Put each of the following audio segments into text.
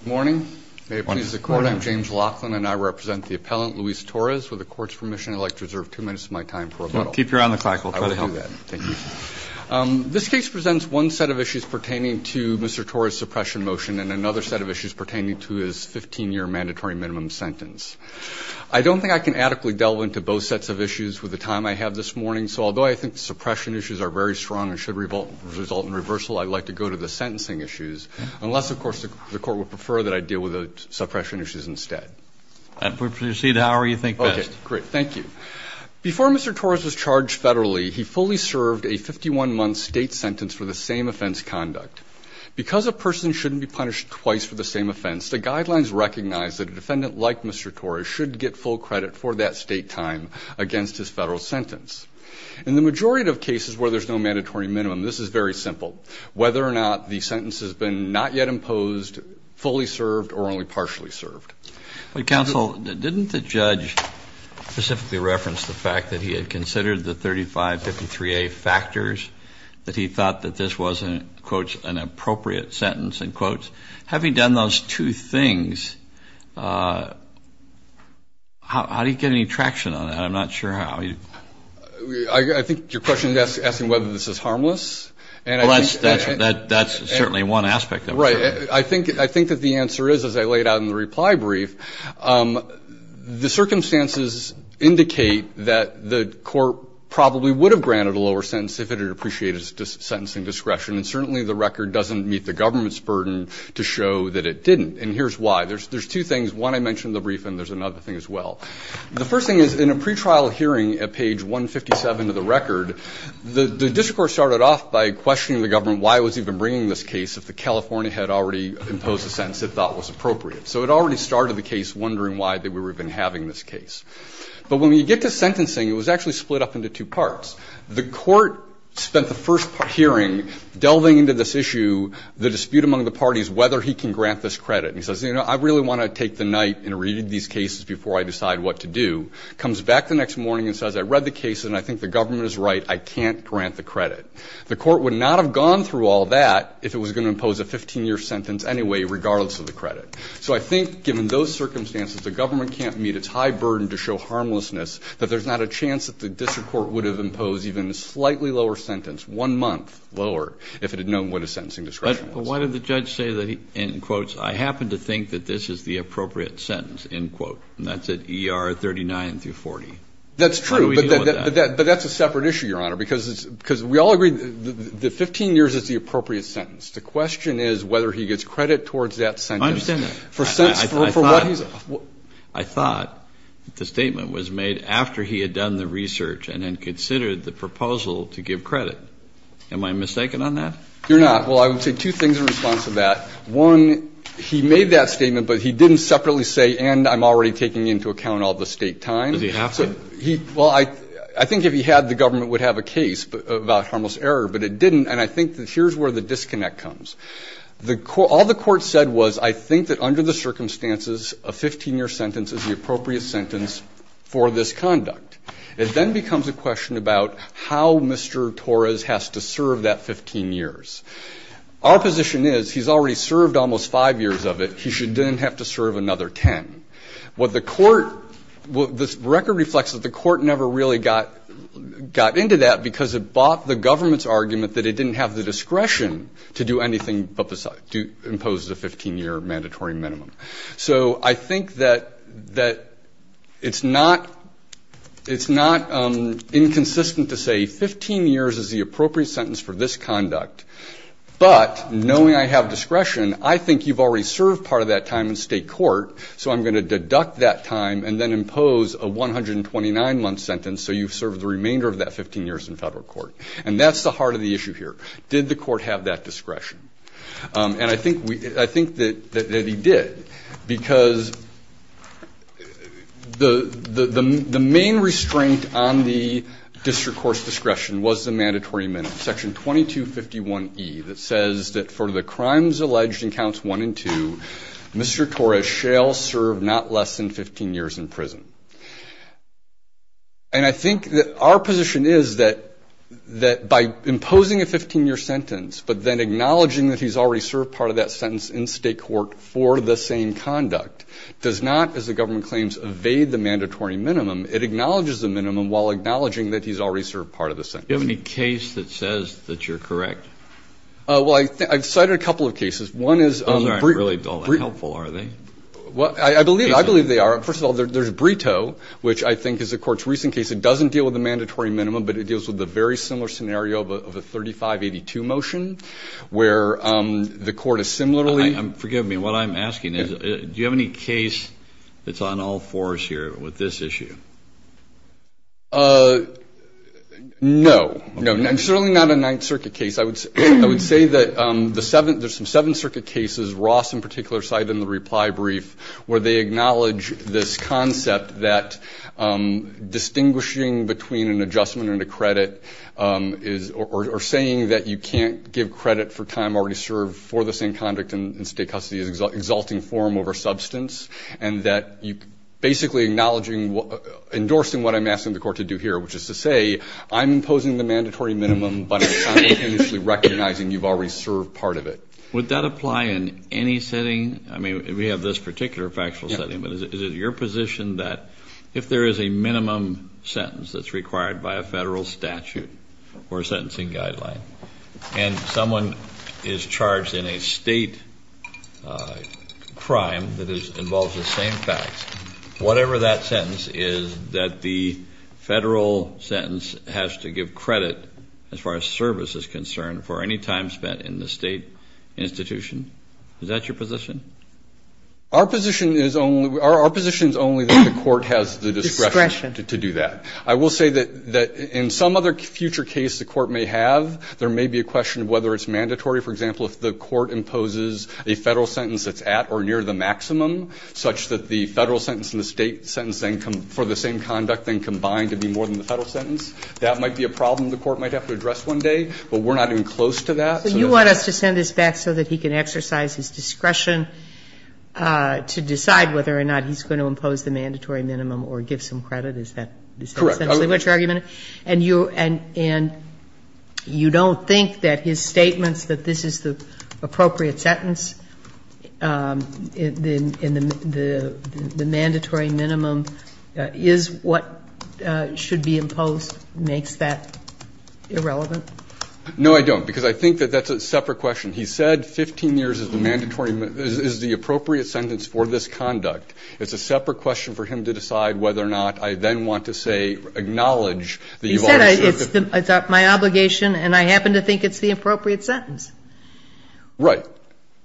Good morning. May it please the Court, I'm James Laughlin, and I represent the appellant Luis Torres. With the Court's permission, I'd like to reserve two minutes of my time for rebuttal. Keep your eye on the clock. We'll try to help. I will do that. Thank you. This case presents one set of issues pertaining to Mr. Torres' suppression motion and another set of issues pertaining to his 15-year mandatory minimum sentence. I don't think I can adequately delve into both sets of issues with the time I have this morning, so although I think the suppression issues are very strong and should result in reversal, I'd like to go to the sentencing issues. Unless, of course, the Court would prefer that I deal with the suppression issues instead. We'll proceed however you think best. Okay. Great. Thank you. Before Mr. Torres was charged federally, he fully served a 51-month state sentence for the same offense conduct. Because a person shouldn't be punished twice for the same offense, the guidelines recognize that a defendant like Mr. Torres should get full credit for that state time against his federal sentence. In the majority of cases where there's no mandatory minimum, this is very simple. Whether or not the sentence has been not yet imposed, fully served, or only partially served. Counsel, didn't the judge specifically reference the fact that he had considered the 3553A factors, that he thought that this was, in quotes, an appropriate sentence, in quotes? Having done those two things, how did he get any traction on that? I'm not sure how. I think your question is asking whether this is harmless. Well, that's certainly one aspect of it. Right. I think that the answer is, as I laid out in the reply brief, the circumstances indicate that the Court probably would have granted a lower sentence if it had appreciated sentencing discretion. And certainly the record doesn't meet the government's burden to show that it didn't. And here's why. There's two things. One, I mentioned the brief, and there's another thing as well. The first thing is, in a pretrial hearing at page 157 of the record, the district court started off by questioning the government why it was even bringing this case if the California had already imposed a sentence it thought was appropriate. So it already started the case wondering why they were even having this case. But when you get to sentencing, it was actually split up into two parts. The court spent the first hearing delving into this issue, the dispute among the parties, whether he can grant this credit. And he says, you know, I really want to take the night and read these cases before I decide what to do. Comes back the next morning and says, I read the cases and I think the government is right, I can't grant the credit. The court would not have gone through all that if it was going to impose a 15-year sentence anyway, regardless of the credit. So I think, given those circumstances, the government can't meet its high burden to show harmlessness, that there's not a chance that the district court would have imposed even a slightly lower sentence, one month lower, if it had known what a sentencing discretion was. But why did the judge say that he, in quotes, I happen to think that this is the appropriate sentence, in quote. And that's at ER 39 through 40. That's true. But that's a separate issue, Your Honor, because we all agree that 15 years is the appropriate sentence. The question is whether he gets credit towards that sentence. I understand that. I thought the statement was made after he had done the research and then considered the proposal to give credit. Am I mistaken on that? You're not. Well, I would say two things in response to that. One, he made that statement, but he didn't separately say, and I'm already taking into account all the State time. Does he have to? Well, I think if he had, the government would have a case about harmless error. But it didn't. And I think that here's where the disconnect comes. All the Court said was, I think that under the circumstances, a 15-year sentence is the appropriate sentence for this conduct. It then becomes a question about how Mr. Torres has to serve that 15 years. Our position is, he's already served almost five years of it. He shouldn't have to serve another ten. What the Court – this record reflects that the Court never really got into that because it bought the government's argument that it didn't have the discretion to do anything but impose the 15-year mandatory minimum. So I think that it's not inconsistent to say 15 years is the appropriate sentence for this conduct. But knowing I have discretion, I think you've already served part of that time in State court, so I'm going to deduct that time and then impose a 129-month sentence so you've served the remainder of that 15 years in federal court. And that's the heart of the issue here. Did the Court have that discretion? And I think that he did because the main restraint on the district court's discretion was the mandatory minimum, Section 2251E, that says that for the crimes alleged in Counts 1 and 2, Mr. Torres shall serve not less than 15 years in prison. And I think that our position is that by imposing a 15-year sentence but then acknowledging that he's already served part of that sentence in State court for the same conduct does not, as the government claims, evade the mandatory minimum. It acknowledges the minimum while acknowledging that he's already served part of the sentence. Do you have any case that says that you're correct? Well, I've cited a couple of cases. Other aren't really all that helpful, are they? Well, I believe they are. First of all, there's Brito, which I think is the Court's recent case. It doesn't deal with the mandatory minimum, but it deals with a very similar scenario of a 3582 motion where the Court has similarly Forgive me. What I'm asking is do you have any case that's on all fours here with this issue? No. No, certainly not a Ninth Circuit case. I would say that there's some Seventh Circuit cases, Ross in particular cited in the reply brief, where they acknowledge this concept that distinguishing between an adjustment and a credit or saying that you can't give credit for time already served for the same conduct in state custody is an exalting form over substance and that basically endorsing what I'm asking the Court to do here, which is to say I'm imposing the mandatory minimum, but I'm not initially recognizing you've already served part of it. Would that apply in any setting? I mean, we have this particular factual setting, but is it your position that if there is a minimum sentence that's required by a federal statute or sentencing guideline and someone is charged in a state crime that involves the same facts, whatever that sentence is that the federal sentence has to give credit as far as service is concerned for any time spent in the state institution? Is that your position? Our position is only that the Court has the discretion to do that. I will say that in some other future case the Court may have, there may be a question of whether it's mandatory. For example, if the Court imposes a federal sentence that's at or near the maximum such that the federal sentence and the state sentence for the same conduct then combine to be more than the federal sentence, that might be a problem the Court might have to address one day, but we're not even close to that. So you want us to send this back so that he can exercise his discretion to decide whether or not he's going to impose the mandatory minimum or give some credit? Is that essentially what you're arguing? Correct. And you don't think that his statements that this is the appropriate sentence in the mandatory minimum is what should be imposed makes that irrelevant? No, I don't. Because I think that that's a separate question. He said 15 years is the appropriate sentence for this conduct. It's a separate question for him to decide whether or not I then want to say acknowledge that you've already said that. He said it's my obligation and I happen to think it's the appropriate sentence. Right.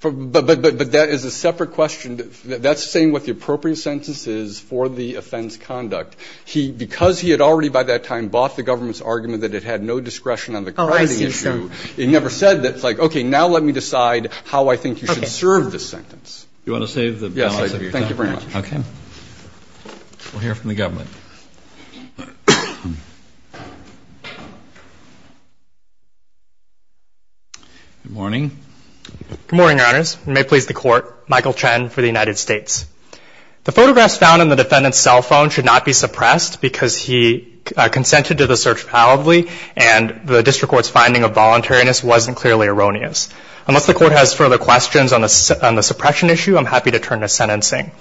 But that is a separate question. That's saying what the appropriate sentence is for the offense conduct. Because he had already by that time bought the government's argument that it had no discretion on the credit issue. Oh, I see, sir. He never said that it's like, okay, now let me decide how I think you should serve this sentence. Okay. You want to save the balance of your time? Yes, thank you very much. Okay. We'll hear from the government. Good morning. Good morning, Your Honors. You may please the Court. Michael Chen for the United States. The photographs found on the defendant's cell phone should not be suppressed because he consented to the search palatably and the district court's finding of voluntariness wasn't clearly erroneous. Unless the court has further questions on the suppression issue, I'm happy to turn to sentencing.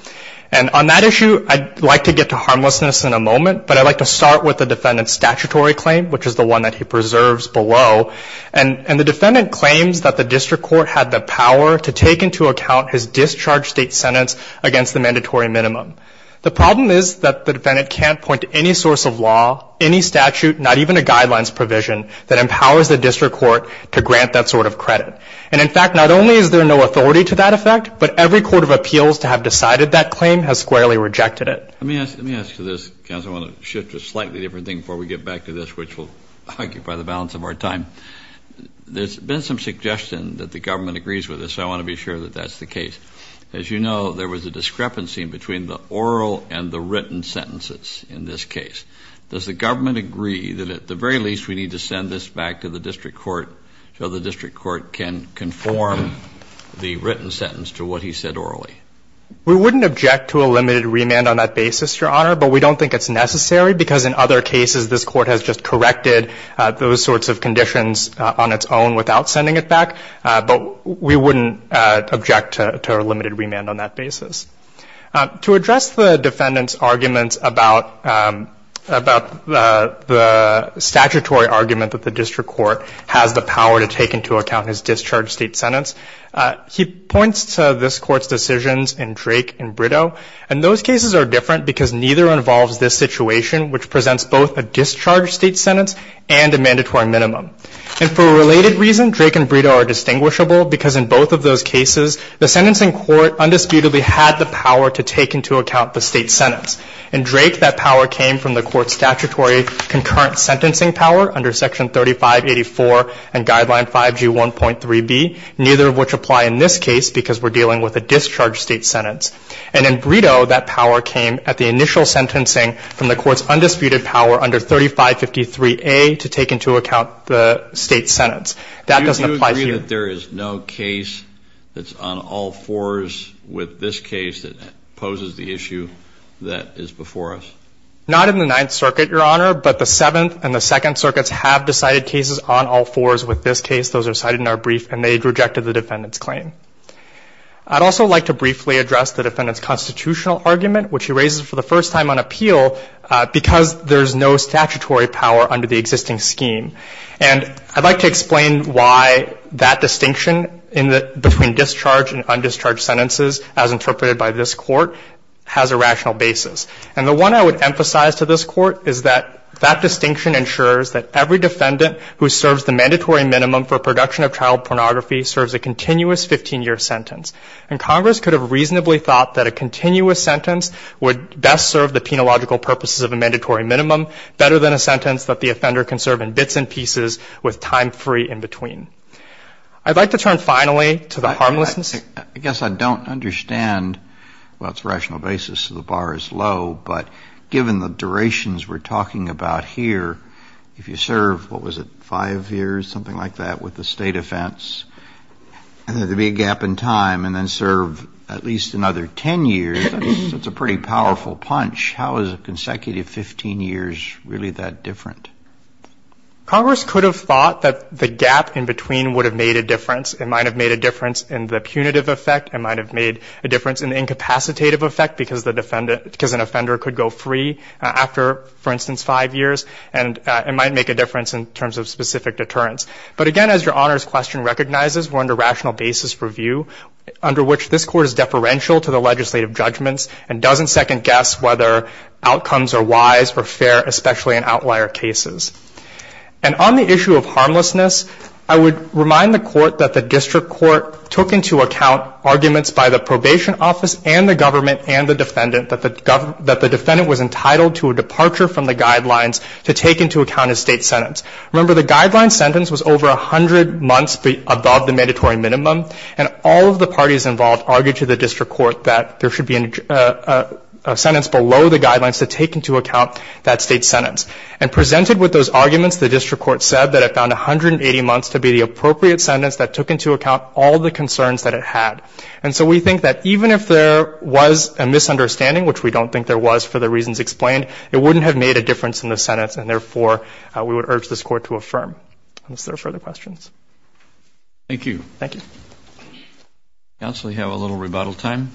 And on that issue, I'd like to get to harmlessness in a moment, but I'd like to start with the defendant's statutory claim, which is the one that he preserves below. And the defendant claims that the district court had the power to take into account his discharge state sentence against the mandatory minimum. The problem is that the defendant can't point to any source of law, any statute, not even a guidelines provision that empowers the district court to grant that sort of credit. And, in fact, not only is there no authority to that effect, but every court of appeals to have decided that claim has squarely rejected it. Let me ask you this, counsel. I want to shift to a slightly different thing before we get back to this, which will occupy the balance of our time. There's been some suggestion that the government agrees with this, so I want to be sure that that's the case. As you know, there was a discrepancy between the oral and the written sentences in this case. Does the government agree that, at the very least, we need to send this back to the district court so the district court can conform the written sentence to what he said orally? We wouldn't object to a limited remand on that basis, Your Honor, but we don't think it's necessary because, in other cases, this court has just corrected those sorts of conditions on its own without sending it back. But we wouldn't object to a limited remand on that basis. To address the defendant's arguments about the statutory argument that the district court has the power to take into account his discharge state sentence, he points to this court's decisions in Drake and Brito, and those cases are different because neither involves this situation, which presents both a discharge state sentence and a mandatory minimum. And for a related reason, Drake and Brito are distinguishable because, in both of those cases, the sentencing court undisputedly had the power to take into account the state sentence. In Drake, that power came from the court's statutory concurrent sentencing power under Section 3584 and Guideline 5G1.3b, neither of which apply in this case because we're dealing with a discharge state sentence. And in Brito, that power came at the initial sentencing from the court's undisputed power under 3553A to take into account the state sentence. That doesn't apply here. Do you agree that there is no case that's on all fours with this case that poses the issue that is before us? Not in the Ninth Circuit, Your Honor, but the Seventh and the Second Circuits have decided cases on all fours with this case. Those are cited in our brief, and they rejected the defendant's claim. I'd also like to briefly address the defendant's constitutional argument, which he raises for the first time on appeal, because there's no statutory power under the existing scheme. And I'd like to explain why that distinction between discharged and undischarged sentences, as interpreted by this Court, has a rational basis. And the one I would emphasize to this Court is that that distinction ensures that every defendant who serves the mandatory minimum for production of child pornography serves a continuous 15-year sentence. And Congress could have reasonably thought that a continuous sentence would best serve the penological purposes of a mandatory minimum, better than a sentence that the offender can serve in bits and pieces with time free in between. I'd like to turn, finally, to the harmlessness. I guess I don't understand, well, it's a rational basis, so the bar is low. But given the durations we're talking about here, if you serve, what was it, five years, something like that, with a state offense, there would be a gap in time and then serve at least another 10 years. That's a pretty powerful punch. How is a consecutive 15 years really that different? Congress could have thought that the gap in between would have made a difference. It might have made a difference in the punitive effect. It might have made a difference in the incapacitative effect, because an offender could go free after, for instance, five years. And it might make a difference in terms of specific deterrence. But, again, as Your Honor's question recognizes, we're under rational basis review, under which this Court is deferential to the legislative judgments and doesn't second-guess whether outcomes are wise or fair, especially in outlier cases. And on the issue of harmlessness, I would remind the Court that the district court took into account arguments by the probation office and the government and the defendant that the defendant was entitled to a departure from the guidelines to take into account a state sentence. Remember, the guideline sentence was over 100 months above the mandatory minimum, and all of the parties involved argued to the district court that there should be a sentence below the guidelines to take into account that state sentence. And presented with those arguments, the district court said that it found 180 months to be the appropriate sentence that took into account all the concerns that it had. And so we think that even if there was a misunderstanding, which we don't think there was for the reasons explained, it wouldn't have made a difference in the sentence, and therefore, we would urge this Court to affirm. Unless there are further questions. Thank you. Thank you. Counsel, you have a little rebuttal time.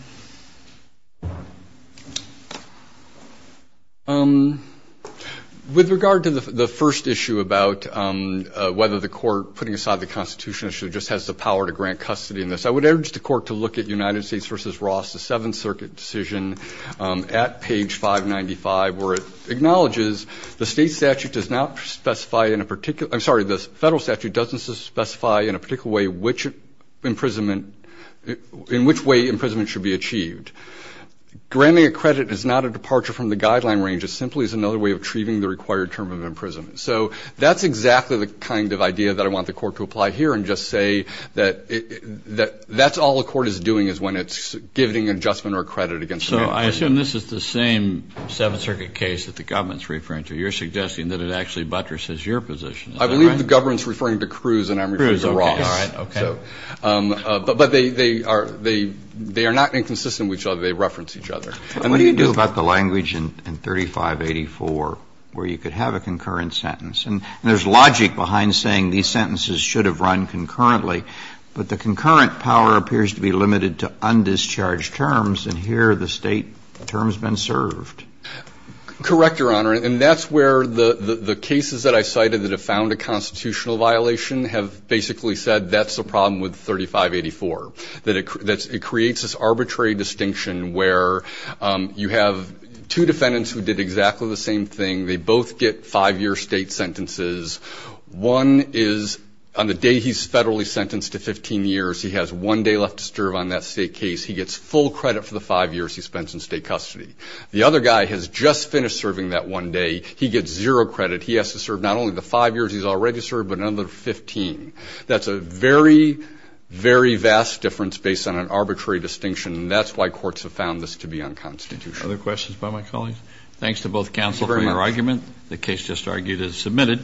With regard to the first issue about whether the Court, putting aside the Constitution issue, just has the power to grant custody in this, I would urge the Court to look at United States v. Ross, the Seventh Circuit decision at page 595, where it acknowledges the state statute does not specify in a particular – I'm sorry, the federal statute doesn't specify in a particular way which imprisonment – in which way imprisonment should be achieved. Granting a credit is not a departure from the guideline range. It simply is another way of treating the required term of imprisonment. So that's exactly the kind of idea that I want the Court to apply here and just say that that's all the Court is doing is when it's giving an adjustment or a credit against the mandate. So I assume this is the same Seventh Circuit case that the government's referring to. You're suggesting that it actually buttresses your position. Is that right? I believe the government's referring to Cruz and I'm referring to Ross. Cruz, okay. All right. Okay. But they are not inconsistent with each other. They reference each other. And what do you do about the language in 3584 where you could have a concurrent sentence? And there's logic behind saying these sentences should have run concurrently, but the concurrent power appears to be limited to undischarged terms, and here the state term's been served. Correct, Your Honor. And that's where the cases that I cited that have found a constitutional violation have basically said that's the problem with 3584, that it creates this arbitrary distinction where you have two defendants who did exactly the same thing. They both get five-year state sentences. One is on the day he's federally sentenced to 15 years, he has one day left to serve on that state case. He gets full credit for the five years he spends in state custody. The other guy has just finished serving that one day. He gets zero credit. He has to serve not only the five years he's already served, but another 15. That's a very, very vast difference based on an arbitrary distinction, and that's why courts have found this to be unconstitutional. Other questions by my colleagues? Thanks to both counsel for your argument. The case just argued is submitted.